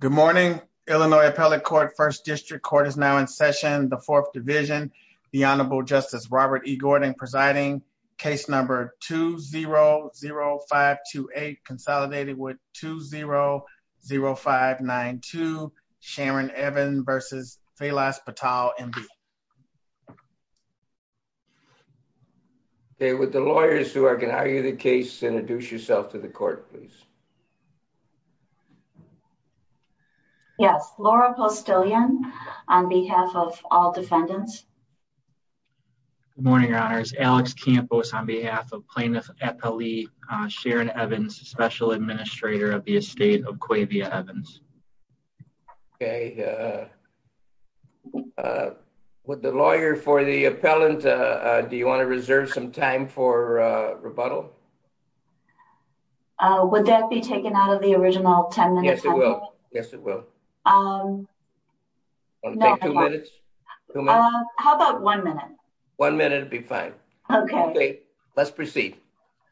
Good morning, Illinois Appellate Court, 1st District Court is now in session, the 4th Division, the Honorable Justice Robert E. Gordon presiding, case number 2-0-0-5-2-8, consolidated with 2-0-0-5-9-2, Sharon Evan versus Felas Patel, MD. Okay, would the lawyers who are going to argue the case introduce yourself to the court, please. Yes, Laura Postilian on behalf of all defendants. Good morning, Your Honors, Alex Campos on behalf of Plaintiff Appellee Sharon Evans, Special Administrator of the Estate of Quavia Evans. Okay, would the lawyer for the appellant, do you want to reserve some time for rebuttal? Yes, it will. Would that be taken out of the original 10 minutes? Yes, it will. Yes, it will. Want to take two minutes? How about one minute? One minute would be fine. Okay. Okay, let's proceed.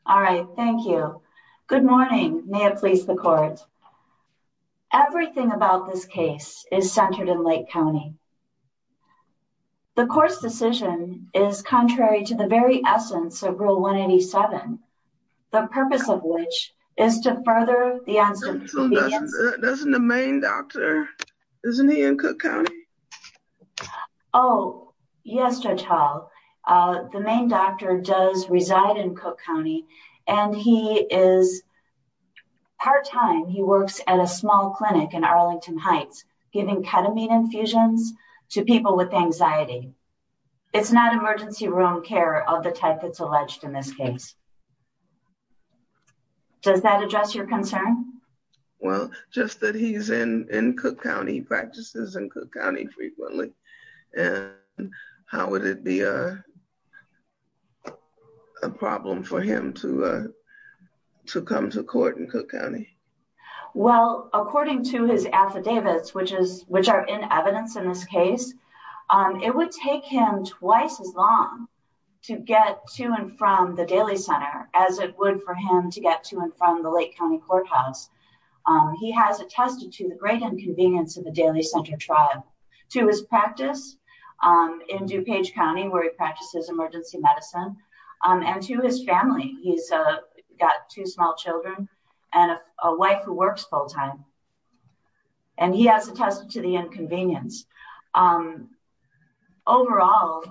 All right, thank you. Good morning, may it please the court. Everything about this case is centered in Lake County. The court's decision is contrary to the very essence of Rule 187, the purpose of which is to further the... Isn't the main doctor, isn't he in Cook County? Oh, yes, Judge Hall. The main doctor does reside in Cook County, and he is part-time. He works at a small clinic in Arlington Heights, giving ketamine infusions to people with anxiety. It's not emergency room care of the type that's alleged in this case. Does that address your concern? Well, just that he's in Cook County, practices in Cook County frequently, and how would it be a problem for him to come to court in Cook County? Well, according to his affidavits, which are in evidence in this case, it would take him twice as long to get to and from the Daly Center as it would for him to get to and from the Lake County Courthouse. He has attested to the great inconvenience of the Daly Center tribe, to his practice in DuPage County, where he practices emergency medicine, and to his family. He's got two small children and a wife who works full-time, and he has attested to the inconvenience. Overall,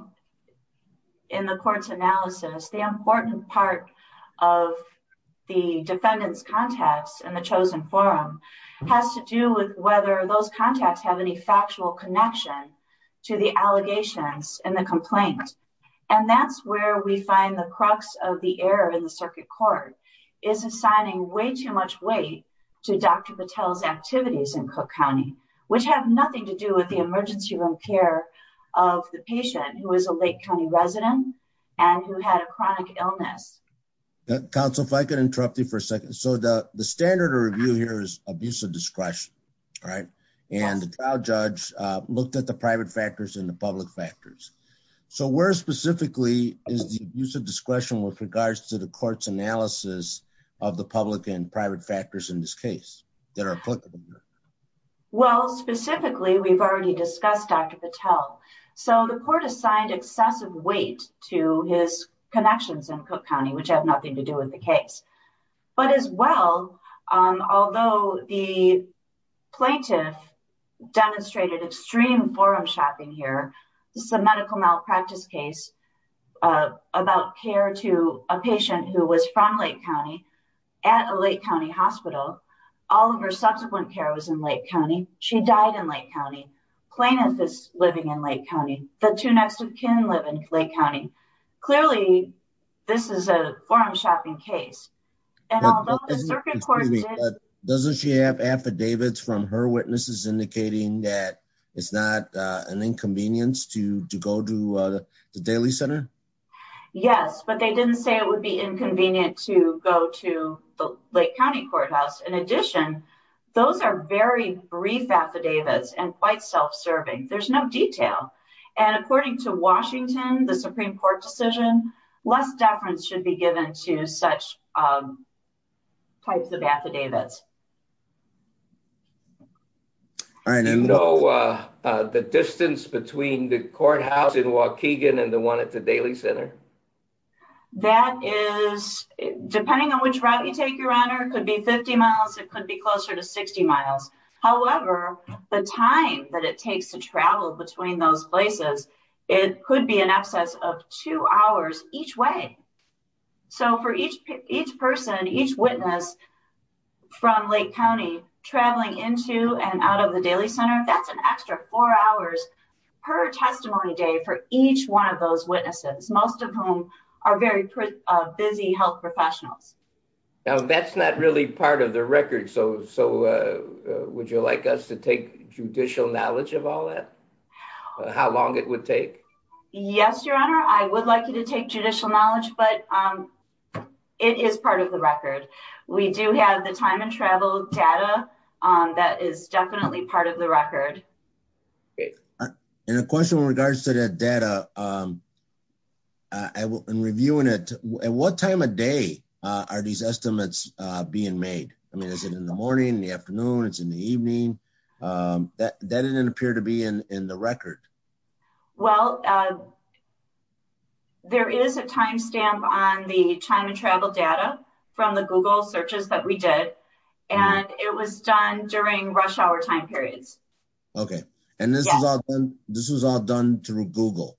in the court's analysis, the important part of the defendant's contacts in the chosen forum has to do with whether those contacts have any factual connection to the allegations in the complaint. And that's where we find the crux of the error in the circuit court, is assigning way too much weight to Dr. Patel's activities in Cook County, which have nothing to do with the emergency room care of the patient who is a Lake County resident and who had a chronic illness. Counsel, if I could interrupt you for a second. So the standard of review here is abuse of discretion, right? And the trial judge looked at the private factors and the public factors. So where specifically is the use of discretion with regards to the court's analysis of the public and private factors in this case that are applicable? Well, specifically, we've already discussed Dr. Patel. So the court assigned excessive weight to his connections in Cook County, which have nothing to do with the case. But as well, although the plaintiff demonstrated extreme forum shopping here, this is a medical malpractice case about care to a patient who was from Lake County at a Lake County hospital. All of her subsequent care was in Lake County. She died in Lake County. Plaintiff is living in Lake County. The two next of kin live in Lake County. Clearly, this is a forum shopping case. And although the circuit court did- Doesn't she have affidavits from her witnesses indicating that it's not an inconvenience to go to the Daly Center? Yes, but they didn't say it would be inconvenient to go to the Lake County courthouse. In addition, those are very brief affidavits and quite self-serving. There's no detail. And according to Washington, the Supreme Court decision, less deference should be given to such types of affidavits. All right. The distance between the courthouse in Waukegan and the one at the Daly Center? That is, depending on which route you take, Your Honor, could be 50 miles. It could be closer to 60 miles. However, the time that it takes to travel between those places, it could be in excess of two hours each way. So for each person, each witness from Lake County traveling into and out of the Daly Center, that's an extra four hours per testimony day for each one of those witnesses, most of whom are very busy health professionals. Now, that's not really part of the record. So would you like us to take judicial knowledge of all that? How long it would take? Yes, Your Honor, I would like you to take judicial knowledge, but it is part of the record. We do have the time and travel data that is definitely part of the record. And a question in regards to that data, in reviewing it, at what time of day are these estimates being made? I mean, is it in the morning, in the afternoon, it's in the evening? That didn't appear to be in the record. Well, there is a timestamp on the time and travel data from the Google searches that we did. And it was done during rush hour time periods. Okay. And this was all done through Google?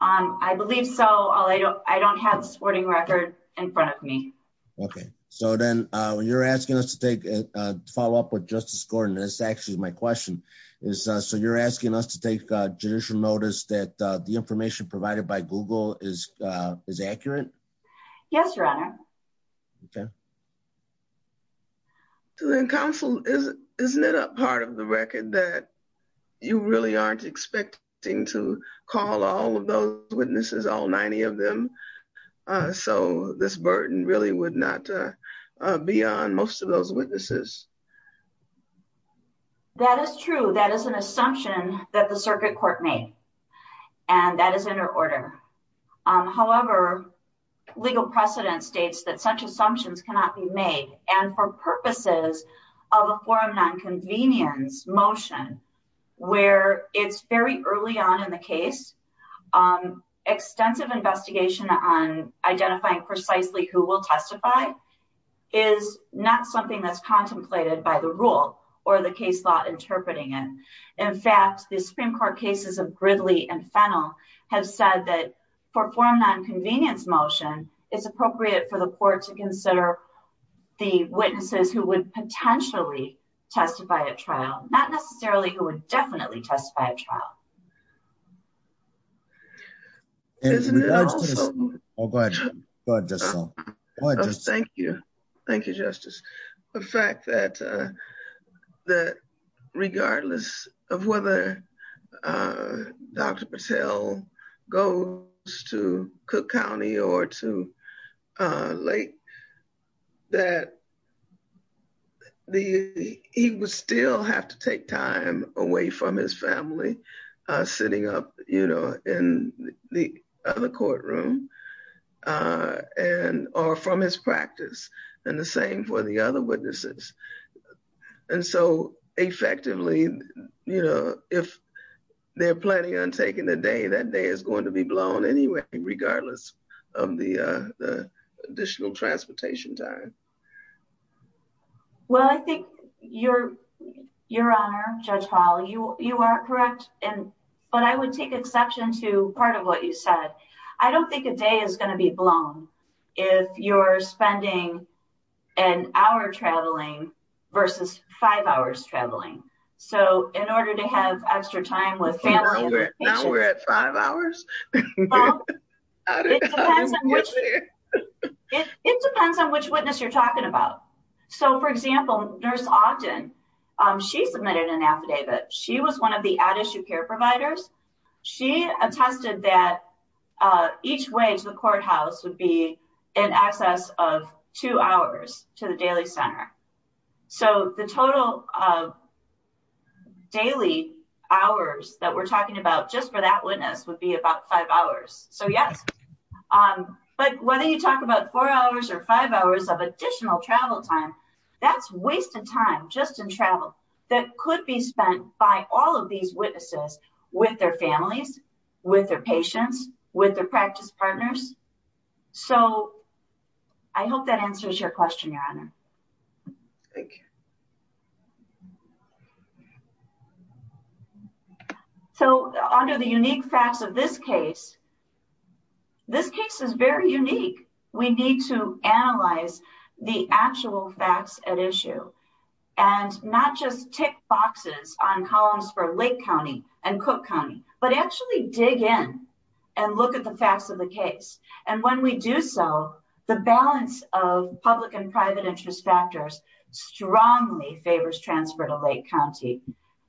I believe so. All I know, I don't have the sporting record in front of me. Okay. So then you're asking us to follow up with Justice Gordon. That's actually my question is, so you're asking us to take judicial notice that the information provided by Google is accurate? Yes, Your Honor. Okay. So then counsel, isn't it a part of the record that you really aren't expecting to call all of those witnesses, all 90 of them? So this burden really would not be on most of those witnesses. That is true. That is an assumption that the circuit court made. And that is under order. However, legal precedent states that such assumptions cannot be made. And for purposes of a forum non-convenience motion, where it's very early on in the case, extensive investigation on identifying precisely who will testify is not something that's contemplated by the rule or the case law interpreting it. In fact, the Supreme Court cases of Gridley and Fennell have said that for forum non-convenience motion, it's appropriate for the court to consider the witnesses who would potentially testify at trial, not necessarily who would definitely testify at trial. Thank you. Thank you, Justice. The fact that regardless of whether Dr. Patel goes to Cook County or to Lake, that he would still have to take time away from his family, sitting up in the other courtroom or from his practice. And the same for the other witnesses. And so effectively, if they're planning on taking the day, that day is going to be blown anyway, regardless of the additional transportation time. Well, I think Your Honor, Judge Hall, you are correct. But I would take exception to part of what you said. I don't think a day is going to be blown if you're spending an hour traveling versus five hours traveling. So in order to have extra time with family. Now we're at five hours. It depends on which witness you're talking about. So, for example, Nurse Ogden, she submitted an affidavit. She was one of the out-of-shoe care providers. She attested that each way to the courthouse would be in excess of two hours to the daily center. So the total daily hours that we're talking about just for that witness would be about five hours. So yes. But whether you talk about four hours or five hours of additional travel time, that's wasted time just in travel that could be spent by all of these witnesses with their families, with their patients, with their practice partners. So I hope that answers your question, Your Honor. Thank you. So under the unique facts of this case, this case is very unique. We need to analyze the actual facts at issue and not just tick boxes on columns for Lake County and Cook County, but actually dig in and look at the facts of the case. And when we do so, the balance of public and private interest factors strongly favors transfer to Lake County.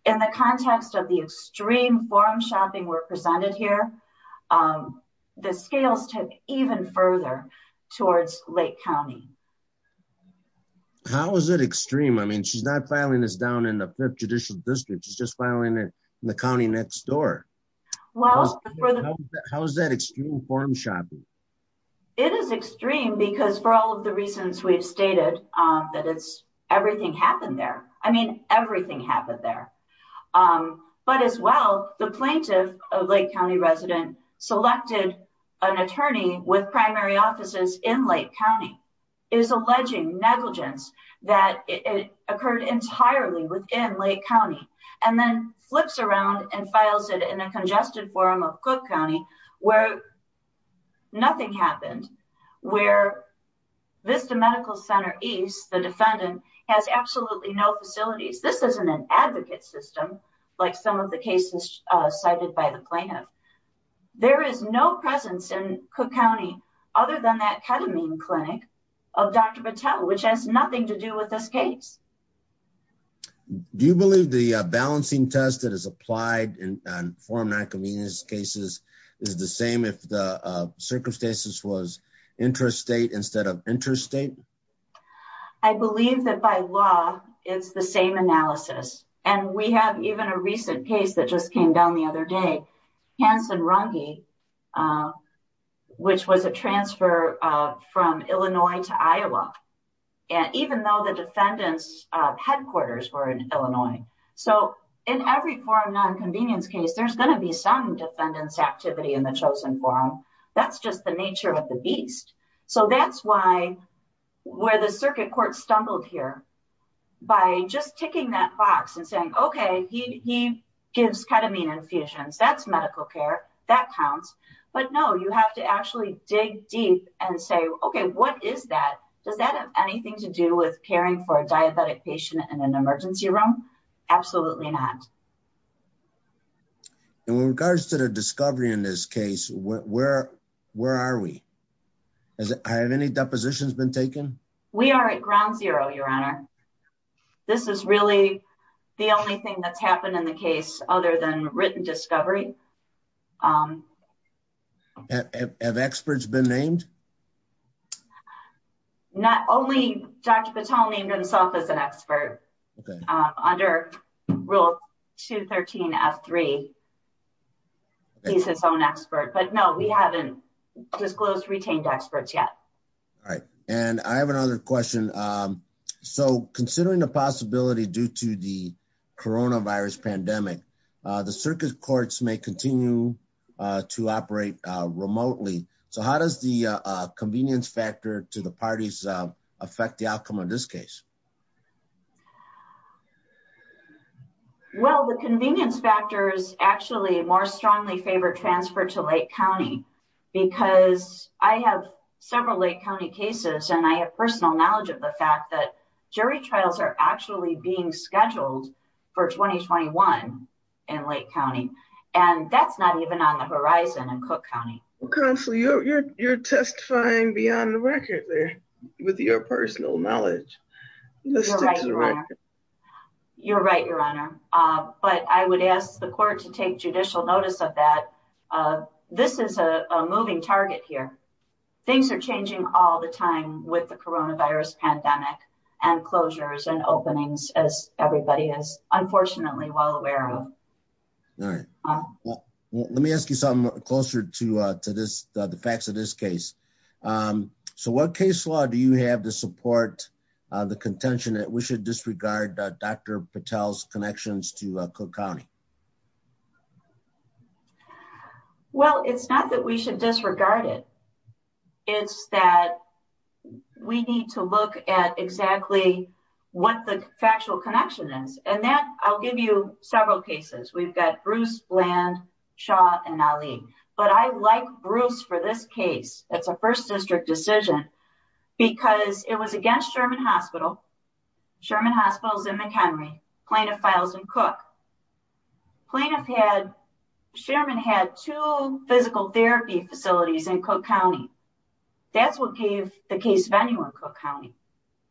In the context of the extreme forum shopping we're presented here, the scales take even further towards Lake County. How is it extreme? I mean, she's not filing this down in the fifth judicial district. She's just filing it in the county next door. Well, how is that extreme forum shopping? It is extreme because for all of the reasons we've stated, that it's everything happened there. I mean, everything happened there. But as well, the plaintiff, a Lake County resident, selected an attorney with primary offices in Lake County. It is alleging negligence that it occurred entirely within Lake County and then flips around and files it in a congested forum of Cook County where nothing happened, where Vista Medical Center East, the defendant, has absolutely no facilities. This isn't an advocate system like some of the cases cited by the plaintiff. There is no presence in Cook County other than that ketamine clinic of Dr. Patel, which has nothing to do with this case. Do you believe the balancing test that is applied in forum non-convenience cases is the same if the circumstances was interstate instead of interstate? I believe that by law, it's the same analysis. And we have even a recent case that just came down the other day. Hanson Runge, which was a transfer from Illinois to Iowa, even though the defendant's headquarters were in Illinois. So in every forum non-convenience case, there's going to be some defendant's activity in the chosen forum. That's just the nature of the beast. So that's why, where the circuit court stumbled here by just ticking that box and saying, okay, he gives ketamine infusions, that's medical care, that counts. But no, you have to actually dig deep and say, okay, what is that? Does that have anything to do with caring for a diabetic patient in an emergency room? Absolutely not. And with regards to the discovery in this case, where are we? Have any depositions been taken? We are at ground zero, your honor. This is really the only thing that's happened in the case other than written discovery. Have experts been named? Not only Dr. Patel named himself as an expert. Under rule 213 F3, he's his own expert. But no, we haven't disclosed retained experts yet. All right. And I have another question. So considering the possibility due to the coronavirus pandemic, the circuit courts may continue to operate remotely. So how does the convenience factor to the parties affect the outcome of this case? Well, the convenience factors actually more strongly favor transfer to Lake County because I have several Lake County cases and I have personal knowledge of the fact that jury trials are actually being scheduled for 2021 in Lake County. And that's not even on the horizon in Cook County. Counsel, you're testifying beyond the record there with your personal knowledge. You're right, your honor. But I would ask the court to take judicial notice of that. This is a moving target here. Things are changing all the time with the coronavirus pandemic and closures and openings as everybody is unfortunately well aware of. All right. Let me ask you something closer to the facts of this case. So what case law do you have to support the contention that we should disregard Dr. Patel's connections to Cook County? Well, it's not that we should disregard it. It's that we need to look at exactly what the factual connection is. And that I'll give you several cases. We've got Bruce, Land, Shaw, and Ali. But I like Bruce for this case. It's a first district decision because it was against Sherman Hospital. Sherman Hospital is in McHenry. Plaintiff files in Cook. The plaintiff had, Sherman had two physical therapy facilities in Cook County. That's what gave the case venue in Cook County.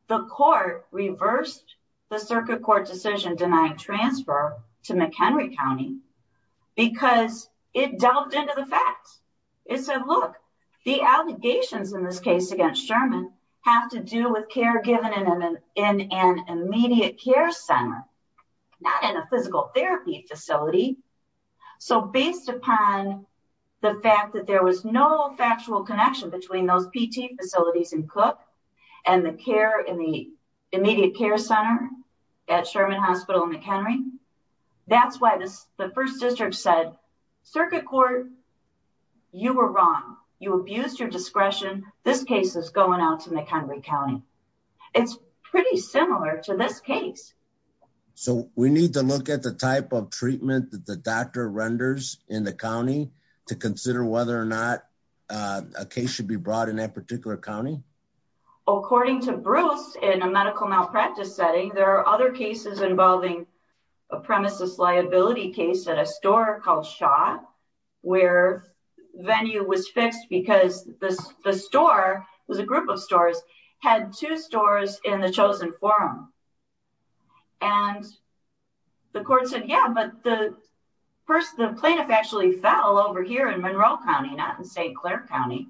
The court reversed the circuit court decision denying transfer to McHenry County because it delved into the facts. It said, look, the allegations in this case against Sherman have to do with care given in an immediate care center. Not in a physical therapy facility. So based upon the fact that there was no factual connection between those PT facilities in Cook and the care in the immediate care center at Sherman Hospital in McHenry, that's why the first district said, circuit court, you were wrong. You abused your discretion. This case is going out to McHenry County. It's pretty similar to this case. So we need to look at the type of treatment that the doctor renders in the County to consider whether or not a case should be brought in that particular County. According to Bruce in a medical malpractice setting, there are other cases involving a premises liability case at a store called Shot where venue was fixed because the store was a group of stores had two stores in the chosen forum. And the court said, yeah, but the plaintiff actually fell over here in Monroe County, not in St. Clair County.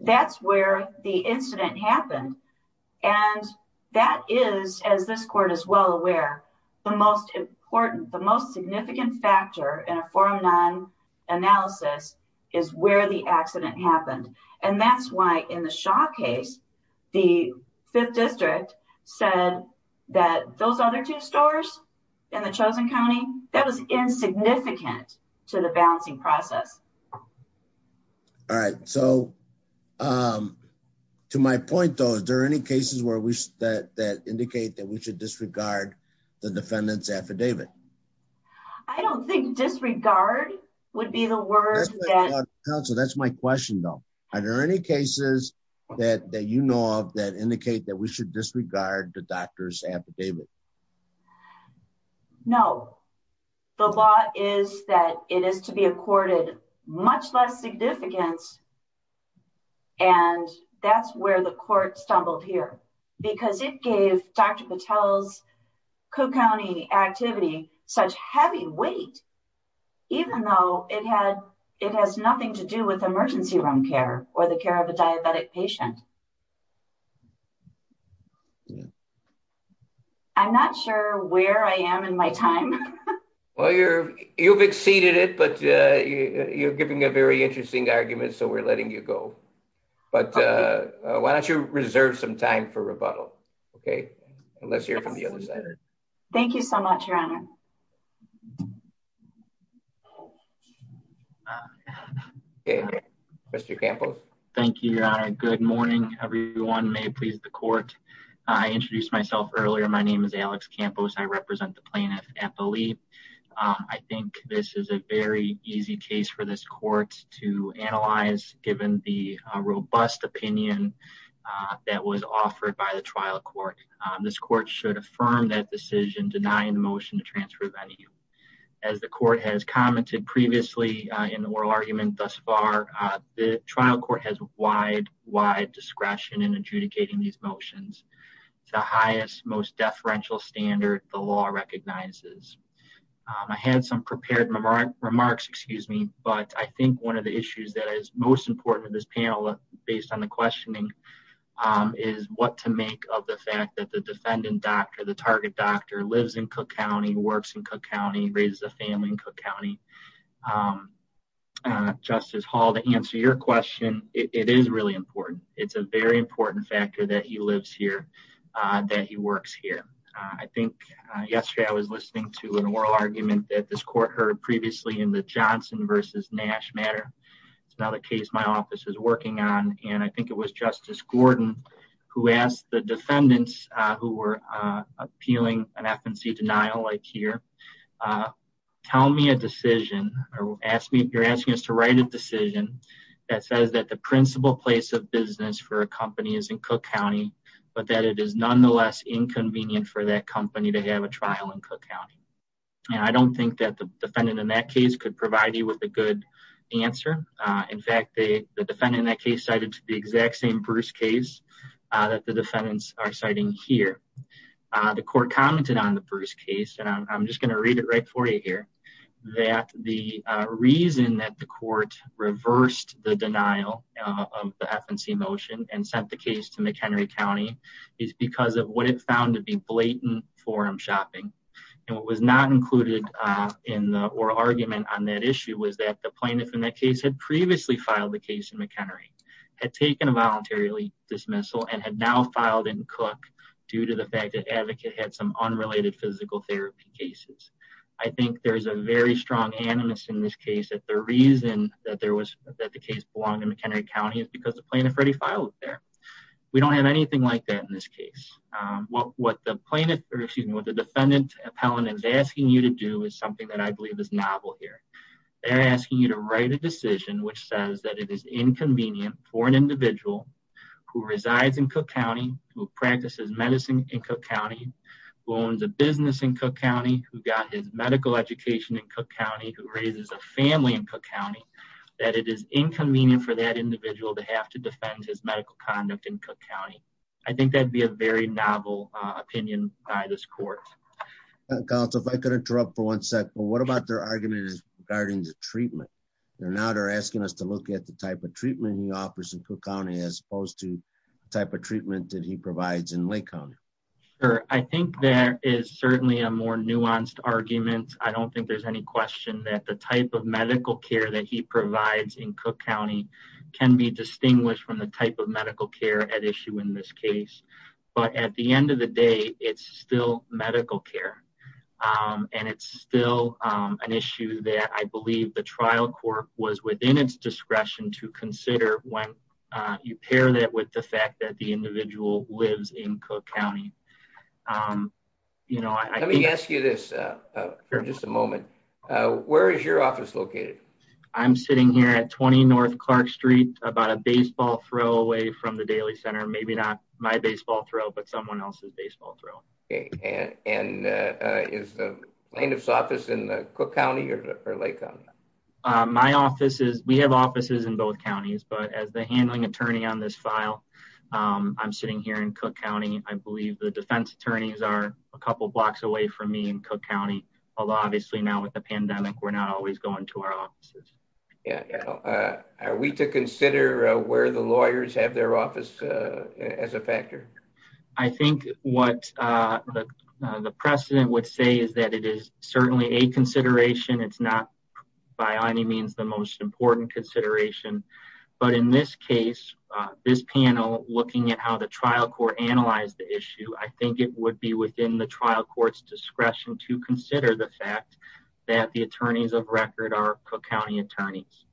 That's where the incident happened. And that is, as this court is well aware, the most important, the most significant factor in a forum non-analysis is where the accident happened. And that's why in the shot case, the fifth district said that those other two stores in the chosen County, that was insignificant to the balancing process. All right. So to my point, though, is there any cases where we said that indicate that we should disregard the defendant's affidavit? I don't think disregard would be the word. That's my question though. Are there any cases that you know of that indicate that we should disregard the doctor's affidavit? No, the law is that it is to be accorded much less significance. And that's where the court stumbled here because it gave Dr. Patel's Cook County activity such heavy weight, even though it has nothing to do with emergency room care or the care of a diabetic patient. I'm not sure where I am in my time. Well, you've exceeded it, but you're giving a very interesting argument. So we're letting you go. But why don't you reserve some time for rebuttal? Okay. And let's hear from the other side. Thank you so much, Your Honor. Okay, Mr. Campos. Thank you, Your Honor. Good morning, everyone. May it please the court. I introduced myself earlier. My name is Alex Campos. I represent the plaintiff at the leap. I think this is a very easy case for this court to analyze given the robust opinion that was offered by the trial court. This court should affirm that decision denying the motion to transfer venue. As the court has commented previously in the oral argument thus far, the trial court has wide, wide discretion in adjudicating these motions. It's the highest, most deferential standard the law recognizes. I had some prepared remarks, excuse me. But I think one of the issues that is most important to this panel based on the questioning is what to make of the fact that the defendant doctor, the target doctor lives in Cook County, works in Cook County, raises a family in Cook County. Justice Hall, to answer your question, it is really important. It's a very important factor that he lives here, that he works here. I think yesterday I was listening to an oral argument that this court heard previously in the Johnson versus Nash matter. It's another case my office is working on. And I think it was Justice Gordon who asked the defendants who were appealing an FNC denial like here. Tell me a decision or ask me, you're asking us to write a decision that says that the principal place of business for a company is in Cook County, but that it is nonetheless inconvenient for that company to have a trial in Cook County. And I don't think that the defendant in that case could provide you with a good answer. In fact, the defendant in that case cited to the exact same Bruce case that the defendants are citing here. The court commented on the Bruce case, and I'm just going to read it right for you here, that the reason that the court reversed the denial of the FNC motion and sent the case to McHenry County is because of what it found to be blatant forum shopping. And what was not included in the oral argument on that issue was that the plaintiff in that case had previously filed the case in McHenry, had taken a voluntary dismissal and had now filed in Cook due to the fact that advocate had some unrelated physical therapy cases. I think there's a very strong animus in this case that the reason that there was that the case belonged in McHenry County is because the plaintiff already filed there. We don't have anything like that in this case. What the plaintiff or excuse me, what the defendant appellant is asking you to do is something that I believe is novel here. They're asking you to write a decision, which says that it is inconvenient for an individual who resides in Cook County, who practices medicine in Cook County, who owns a business in Cook County, who got his medical education in Cook County, who raises a family in Cook County, that it is inconvenient for that individual to have to defend his medical conduct in Cook County. I think that'd be a very novel opinion by this court. Counsel, if I could interrupt for one sec, but what about their argument is regarding the treatment? Now they're asking us to look at the type of treatment he offers in Cook County, as opposed to the type of treatment that he provides in Lake County. Sure. I think there is certainly a more nuanced argument. I don't think there's any question that the type of medical care that he provides in Cook County can be distinguished from the type medical care at issue in this case. But at the end of the day, it's still medical care. And it's still an issue that I believe the trial court was within its discretion to consider when you pair that with the fact that the individual lives in Cook County. Let me ask you this for just a moment. Where is your office located? I'm sitting here at 20 North Clark Street, about a baseball throw away from the Daily Center. Maybe not my baseball throw, but someone else's baseball throw. Okay. And is the plaintiff's office in the Cook County or Lake County? My office is, we have offices in both counties, but as the handling attorney on this file, I'm sitting here in Cook County. I believe the defense attorneys are a couple blocks away from in Cook County. Although obviously now with the pandemic, we're not always going to our offices. Are we to consider where the lawyers have their office as a factor? I think what the precedent would say is that it is certainly a consideration. It's not by any means the most important consideration. But in this case, this panel looking at how the trial court analyzed the issue, I think it would be within the trial court's discretion to consider the fact that the attorneys of record are Cook County attorneys.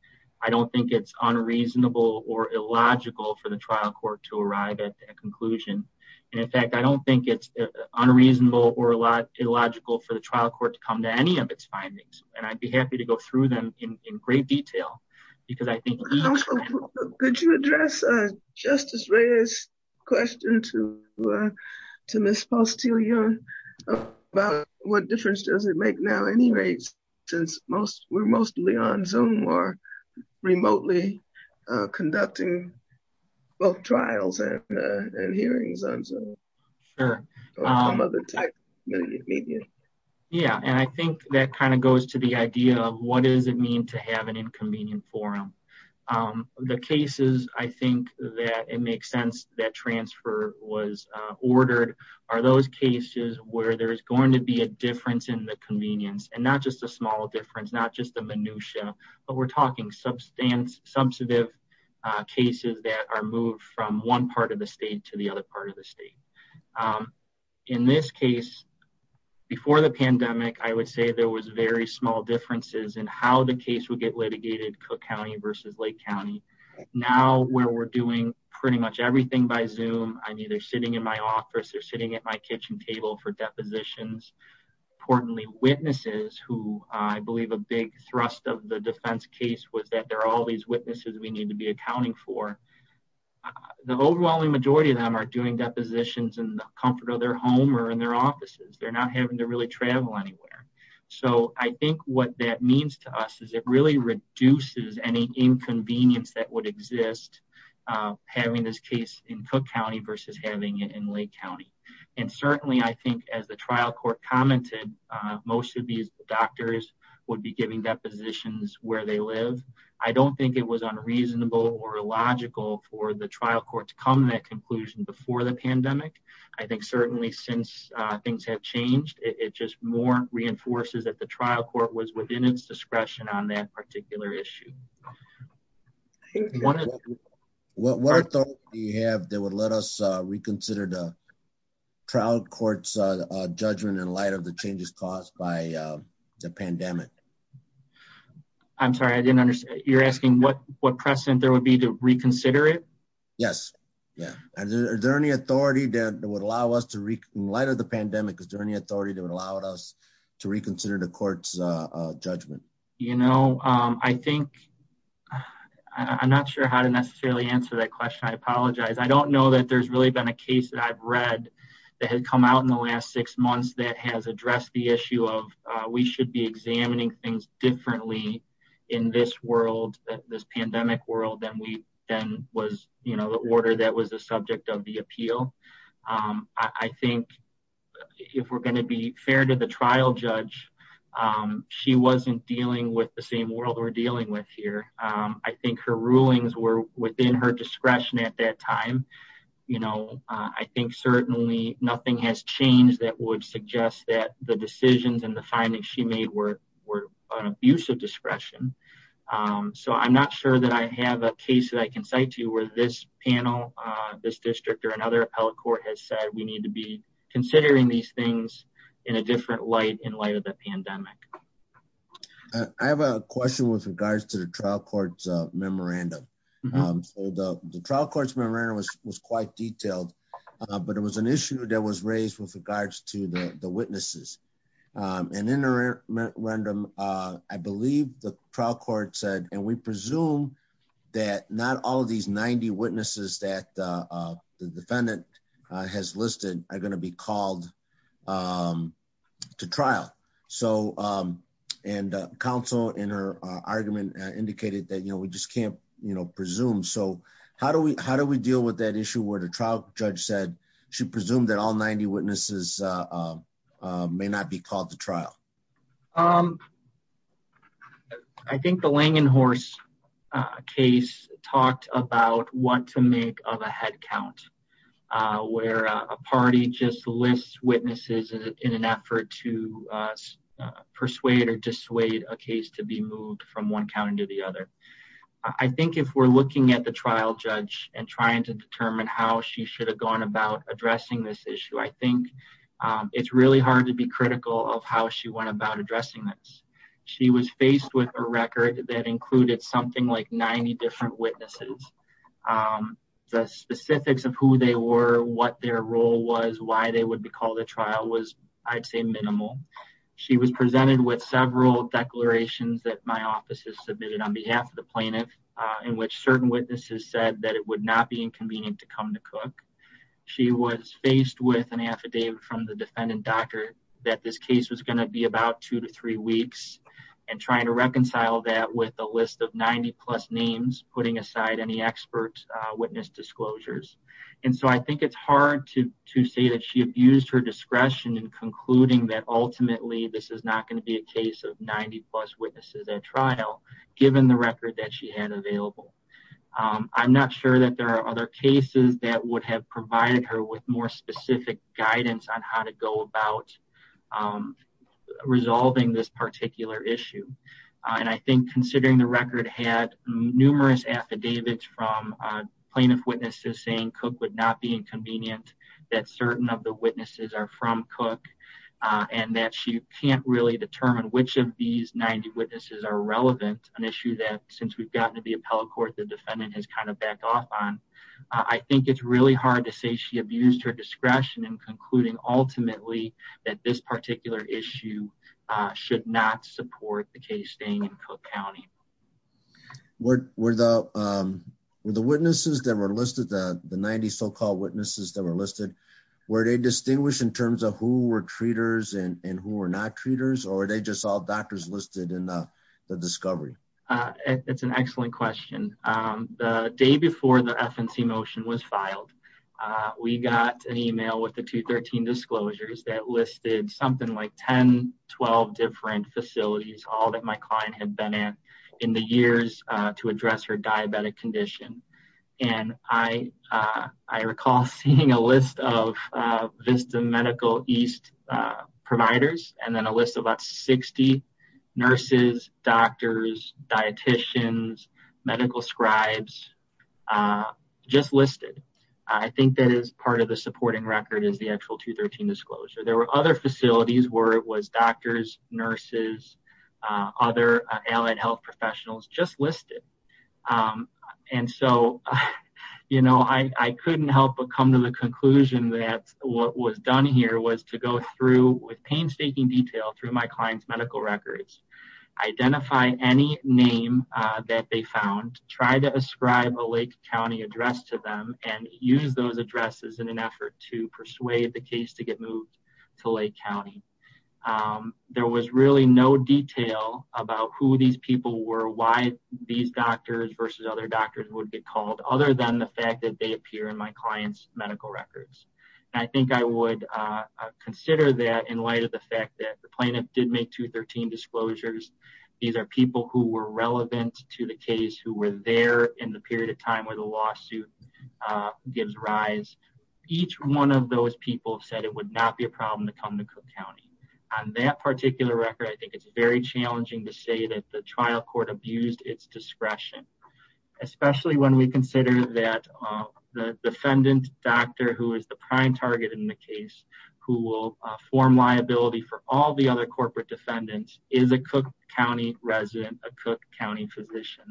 I don't think it's unreasonable or illogical for the trial court to arrive at a conclusion. And in fact, I don't think it's unreasonable or illogical for the trial court to come to any of its findings. And I'd be happy to go through them in great detail. Could you address Justice Reyes' question to Ms. Postilio about what difference does it make now anyway, since we're mostly on Zoom or remotely conducting both trials and hearings on Zoom? Sure. Yeah. And I think that kind of goes to the idea of what does it mean to have an inconvenient forum? The cases I think that it makes sense that transfer was ordered are those cases where there's going to be a difference in the convenience and not just a small difference, not just the minutiae, but we're talking substantive cases that are moved from one of the state to the other part of the state. In this case, before the pandemic, I would say there was very small differences in how the case would get litigated, Cook County versus Lake County. Now where we're doing pretty much everything by Zoom, I'm either sitting in my office or sitting at my kitchen table for depositions. Importantly, witnesses who I believe a big thrust of the defense case was that there are all these witnesses we need to be are doing depositions in the comfort of their home or in their offices. They're not having to really travel anywhere. So I think what that means to us is it really reduces any inconvenience that would exist, having this case in Cook County versus having it in Lake County. And certainly, I think as the trial court commented, most of these doctors would be giving depositions where they live. I don't think it was unreasonable or illogical for the trial court to come to that conclusion before the pandemic. I think certainly since things have changed, it just more reinforces that the trial court was within its discretion on that particular issue. What are thoughts you have that would let us reconsider the trial court's judgment in light of the changes caused by the pandemic? I'm sorry, I didn't understand. You're asking what precedent there would be to reconsider it? Yes. Yeah. Is there any authority that would allow us to, in light of the pandemic, is there any authority that would allow us to reconsider the court's judgment? You know, I think, I'm not sure how to necessarily answer that question. I apologize. I don't know that there's really been a case that I've read that had come out in the last six months that has we should be examining things differently in this world, this pandemic world, than was, you know, the order that was the subject of the appeal. I think if we're going to be fair to the trial judge, she wasn't dealing with the same world we're dealing with here. I think her rulings were within her discretion at that time. You know, I think certainly nothing has changed that would were an abuse of discretion. So, I'm not sure that I have a case that I can cite to where this panel, this district, or another appellate court has said we need to be considering these things in a different light in light of the pandemic. I have a question with regards to the trial court's memorandum. The trial court's memorandum was quite detailed, but it was an issue that was memorandum. I believe the trial court said, and we presume that not all of these 90 witnesses that the defendant has listed are going to be called to trial. So, and counsel in her argument indicated that, you know, we just can't, you know, presume. So, how do we deal with that issue where the trial judge said she presumed that all 90 witnesses may not be called to trial? I think the Langenhorst case talked about what to make of a head count, where a party just lists witnesses in an effort to persuade or dissuade a case to be moved from one county to the other. I think if we're looking at the trial judge and trying to determine how she should have gone about addressing this issue, I think it's really hard to be critical of how she went about addressing this. She was faced with a record that included something like 90 different witnesses. The specifics of who they were, what their role was, why they would be called to trial was, I'd say, minimal. She was presented with several declarations that my office has submitted on behalf of the plaintiff, in which certain witnesses said that it would not be inconvenient to come to Cook. She was faced with an affidavit from the defendant doctor that this case was going to be about two to three weeks, and trying to reconcile that with a list of 90-plus names, putting aside any expert witness disclosures. And so, I think it's hard to say that she abused her discretion in concluding that ultimately this is not going to be a case of 90-plus witnesses at I'm not sure that there are other cases that would have provided her with more specific guidance on how to go about resolving this particular issue. And I think considering the record had numerous affidavits from plaintiff witnesses saying Cook would not be inconvenient, that certain of the witnesses are from Cook, and that she can't really determine which of these 90 the defendant has kind of backed off on. I think it's really hard to say she abused her discretion in concluding, ultimately, that this particular issue should not support the case staying in Cook County. Were the witnesses that were listed, the 90 so-called witnesses that were listed, were they distinguished in terms of who were treaters and who were not treaters, or were they all doctors listed in the discovery? It's an excellent question. The day before the FNC motion was filed, we got an email with the 213 disclosures that listed something like 10-12 different facilities, all that my client had been in in the years to address her diabetic condition. And I recall seeing a list of Vista Medical East providers, and then a list of about 60 nurses, doctors, dieticians, medical scribes, just listed. I think that is part of the supporting record is the actual 213 disclosure. There were other facilities where it was doctors, nurses, other allied health professionals just listed. And so, you know, I couldn't help but come to the conclusion that what was done here was to go through with painstaking detail through my client's medical records, identify any name that they found, try to ascribe a Lake County address to them, and use those addresses in an effort to persuade the case to get moved to Lake County. Um, there was really no detail about who these people were, why these doctors versus other doctors would be called other than the fact that they appear in my client's medical records. And I think I would consider that in light of the fact that the plaintiff did make 213 disclosures. These are people who were relevant to the case who were there in the period of time where the lawsuit gives rise. Each one of those people said it would not be a problem to come to Cook County. On that particular record, I think it's very challenging to say that the trial court abused its discretion, especially when we consider that the defendant doctor who is the prime target in the case who will form liability for all the other corporate defendants is a Cook County resident, a Cook County physician.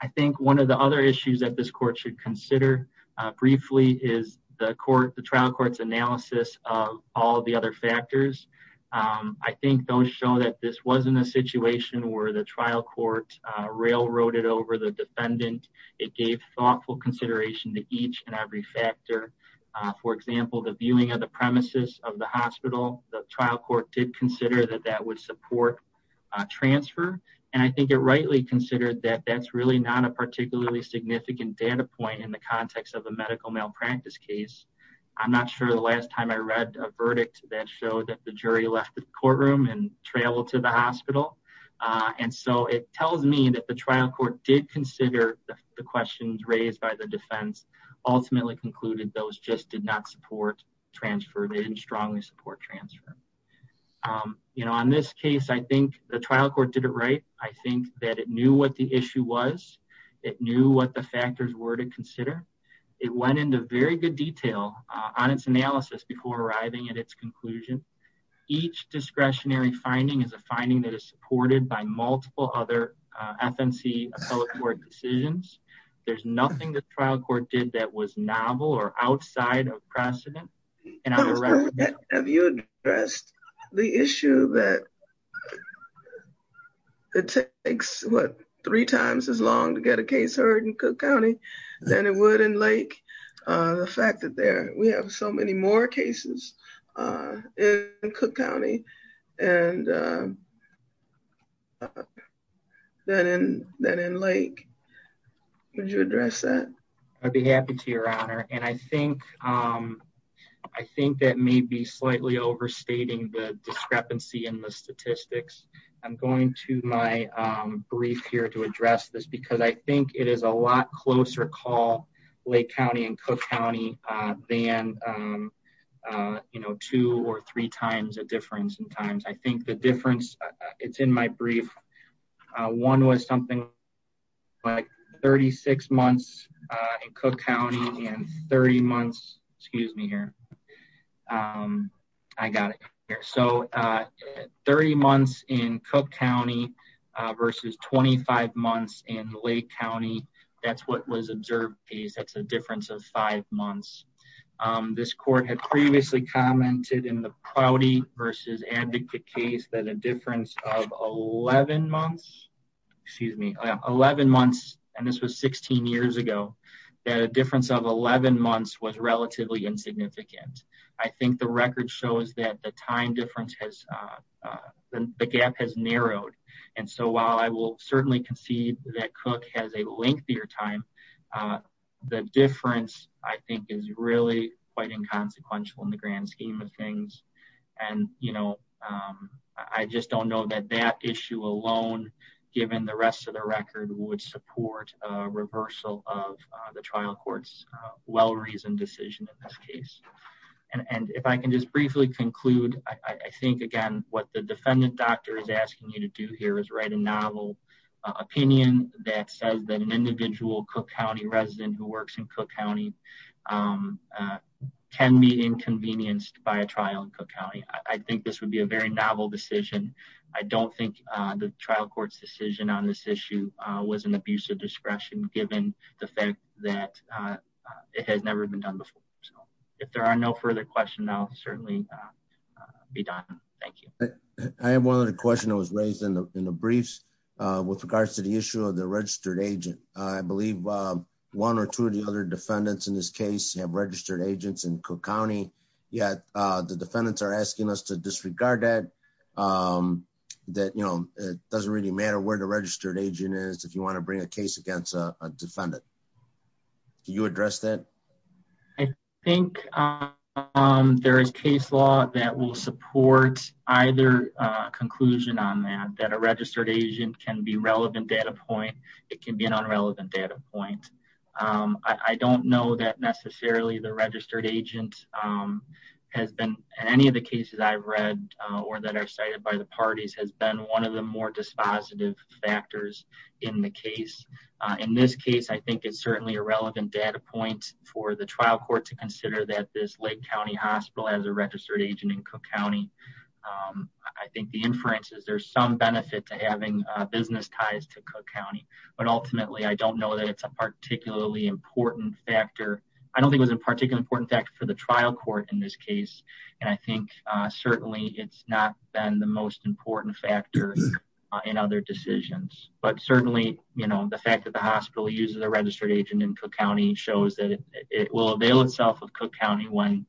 I think one of the other issues that this court should consider briefly is the court, the trial court's analysis of all the other factors. I think those show that this wasn't a situation where the trial court railroaded over the defendant. It gave thoughtful consideration to each and every factor. For example, the viewing of the premises of the hospital, the trial court did consider that that would support a transfer. And I think it rightly considered that that's really not a particularly significant data point in the context of a medical malpractice case. I'm not sure the last time I read a verdict that showed that the jury left the courtroom and traveled to the hospital. And so it tells me that the trial court did consider the questions raised by the defense ultimately concluded. Those just did not support transfer. They didn't strongly support transfer. You know, on this case, I think the trial court did it right. I think that it knew what the issue was. It knew what the factors were to consider. It went into very good detail on its analysis before arriving at its conclusion. Each discretionary finding is a finding that is supported by multiple other FNC appellate court decisions. There's nothing the trial court did that was novel or outside of precedent. Have you addressed the issue that it takes what three times as long to get a case heard in Cook County than it would in Lake? The fact that there we have so many more cases in Cook County and than in Lake. Would you address that? I'd be happy to, your honor. And I think that may be slightly overstating the discrepancy in the statistics. I'm going to my brief here to address this because I think it is a lot closer call Lake County and Cook County than, you know, two or three times a difference in times. I think the difference it's in my brief. One was something like 36 months in Cook County and 30 months, excuse me here. I got it here. So 30 months in Cook County versus 25 months in Lake County. That's what was in the priority versus advocate case that a difference of 11 months, excuse me, 11 months. And this was 16 years ago that a difference of 11 months was relatively insignificant. I think the record shows that the time difference has the gap has narrowed. And so while I will certainly concede that Cook has a lengthier time, the difference I think is really quite inconsequential in the grand scheme of things. And, you know I just don't know that that issue alone, given the rest of the record would support a reversal of the trial courts well-reasoned decision in this case. And if I can just briefly conclude, I think again, what the defendant doctor is asking you to do here is write a novel opinion that says that an individual Cook County resident who works in Cook County can be inconvenienced by a trial in Cook County. I think this would be a very novel decision. I don't think the trial court's decision on this issue was an abuse of discretion given the fact that it has never been done before. So if there are no further questions, I'll certainly be done. Thank you. I have one other question that was raised in the briefs with regards to the issue of the registered agent. I believe one or two of the other defendants in this case have registered agents in Cook County, yet the defendants are asking us to disregard that. That, you know, it doesn't really matter where the registered agent is if you want to bring a case against a defendant. Can you address that? I think there is case law that will support either conclusion on that, that a registered agent can be relevant data point. It can be an unrelevant data point. I don't know that necessarily the registered agent has been in any of the cases I've read or that are cited by the parties has been one of the more dispositive factors in the case. In this case, I think it's certainly a relevant data point for the trial court to consider that this Lake County Hospital has a registered agent in Cook County. I think the inference is there's some benefit to having business ties to Cook County, but ultimately I don't know that it's a particularly important factor. I don't think it was a particularly important factor for the trial court in this case, and I think certainly it's not been the most important factor in other decisions. But certainly, you know, the fact that the hospital uses a registered agent in Cook County shows that it will avail itself of Cook County when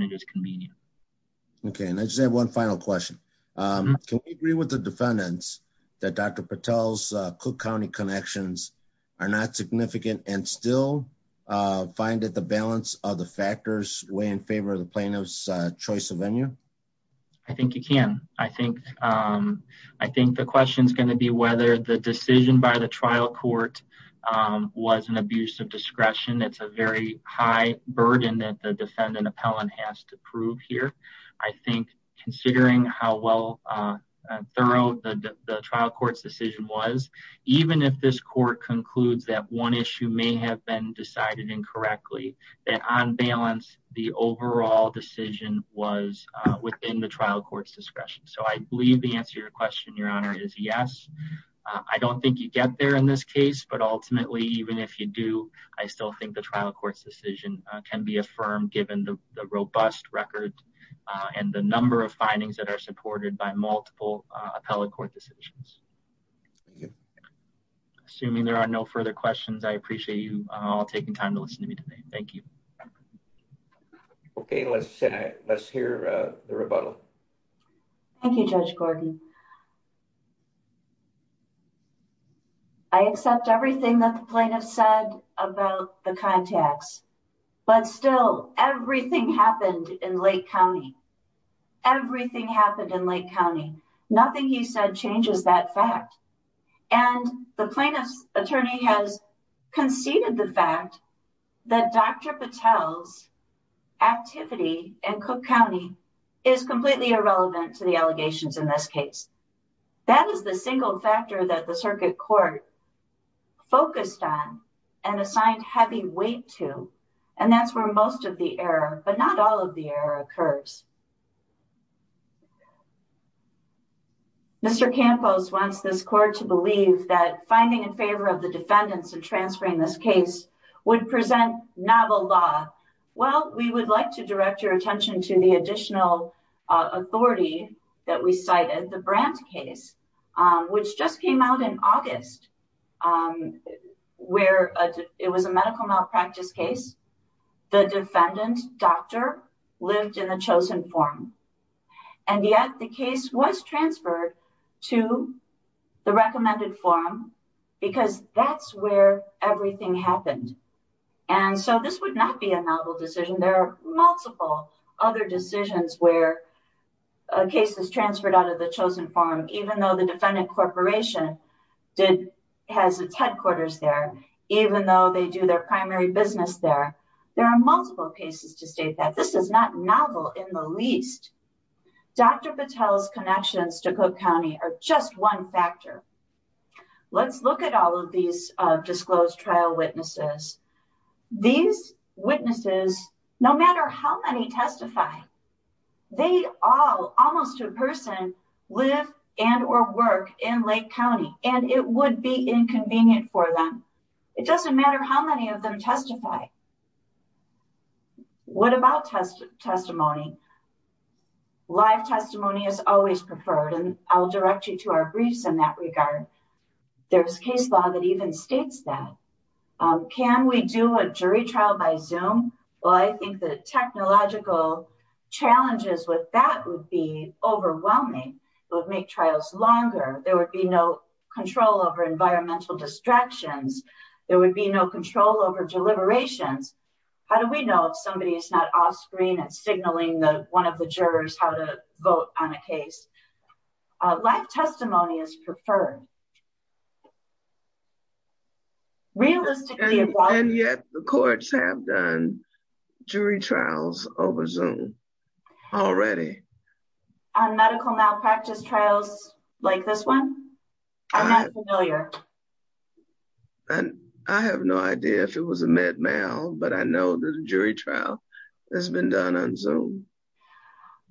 it is convenient. Okay, and I just have one final question. Can we agree with the defendants that Dr. Patel's Cook County connections are not significant and still find that the balance of the factors weigh in favor of the plaintiff's choice of venue? I think you can. I think the question is going to be whether the decision by the trial court was an abuse of discretion. It's a very high burden that the defendant appellant has to prove here. I think considering how well thorough the trial court's decision was, even if this court concludes that one issue may have been decided incorrectly, that on balance, the overall decision was within the trial court's discretion. So I believe the answer to your honor is yes. I don't think you get there in this case, but ultimately, even if you do, I still think the trial court's decision can be affirmed given the robust record and the number of findings that are supported by multiple appellate court decisions. Assuming there are no further questions, I appreciate you all taking time to listen to me today. Thank you. Okay, let's hear the rebuttal. Thank you, Judge Gordon. I accept everything that the plaintiff said about the contacts, but still everything happened in Lake County. Everything happened in Lake County. Nothing he said changes that fact, and the plaintiff's attorney has conceded the fact that Dr. Patel's activity in Cook County is completely irrelevant to the allegations in this case. That is the single factor that the circuit court focused on and assigned heavy weight to, and that's where most of the error, but not all of the error, occurs. Mr. Campos wants this court to believe that finding in favor of the defendants in transferring this case would present novel law. Well, we would like to direct attention to the additional authority that we cited, the Brandt case, which just came out in August, where it was a medical malpractice case. The defendant, doctor, lived in the chosen form, and yet the case was transferred to the recommended form because that's where everything happened, and so this would not be a novel decision. There are multiple other decisions where a case is transferred out of the chosen form, even though the defendant corporation has its headquarters there, even though they do their primary business there. There are multiple cases to state that. This is not novel in the least. Dr. Patel's connections to Cook County are just one factor. Let's look at all of these disclosed trial witnesses. These witnesses, no matter how many testify, they all, almost to a person, live and or work in Lake County, and it would be inconvenient for them. It doesn't matter how many of them testify. What about testimony? Live testimony is always preferred, and I'll direct you to our briefs in that regard. There's case law that even states that. Can we do a jury trial by Zoom? Well, I think the technological challenges with that would be overwhelming. It would make trials longer. There would be no control over environmental distractions. There would be no control over deliberations. How do we know if somebody is not off-screen and signaling one of the jurors how to vote on a case? Live testimony is preferred. Realistically- And yet, the courts have done jury trials over Zoom already. On medical malpractice trials like this one? I'm not familiar. I have no idea if it was a med mal, but I know there's a jury trial that's been done on Zoom.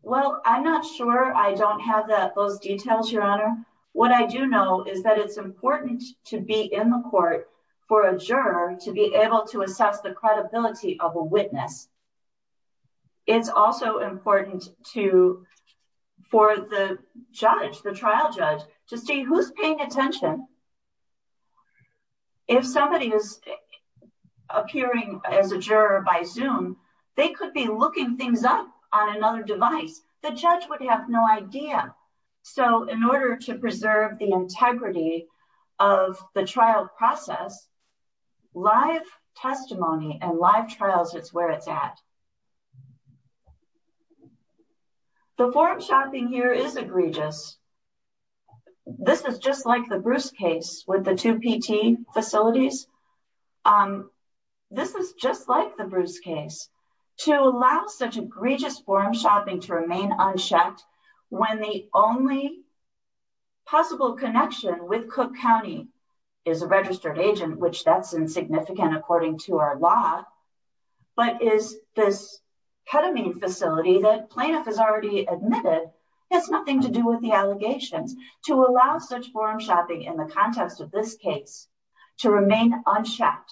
Well, I'm not sure. I don't have those details, Your Honor. What I do know is that it's important to be in the court for a juror to be able to assess the credibility of a witness. It's also important for the trial judge to see who's paying attention. If somebody is appearing as a juror by Zoom, they could be looking things up on another device. The judge would have no idea. In order to preserve the integrity of the trial process, live testimony and live trials is where it's at. The forum shopping here is egregious. This is just like the Bruce case with the two PT facilities. This is just like the Bruce case. To allow such egregious forum shopping to remain unshackled, which that's insignificant according to our law, but is this ketamine facility that plaintiff has already admitted has nothing to do with the allegations, to allow such forum shopping in the context of this case to remain unshackled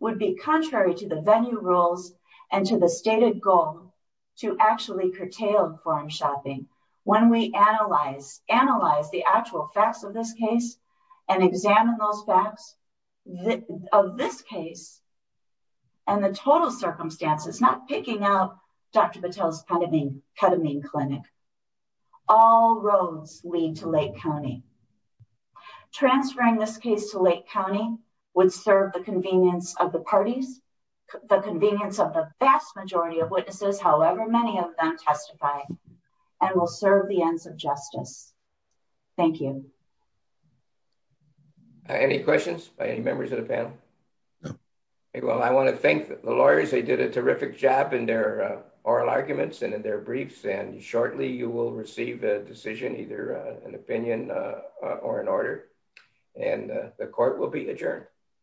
would be contrary to the venue rules and to the stated goal to actually curtail forum shopping. When we analyze the actual facts of this case and examine those facts of this case and the total circumstances, not picking up Dr. Patel's ketamine clinic, all roads lead to Lake County. Transferring this case to Lake County would serve the convenience of the parties, the convenience of the vast majority of witnesses, however many of them testify, and will serve the ends of justice. Thank you. Any questions by any members of the panel? Well, I want to thank the lawyers. They did a terrific job in their oral arguments and in their briefs, and shortly you will receive a decision, either an opinion or an order, and the court will be adjourned.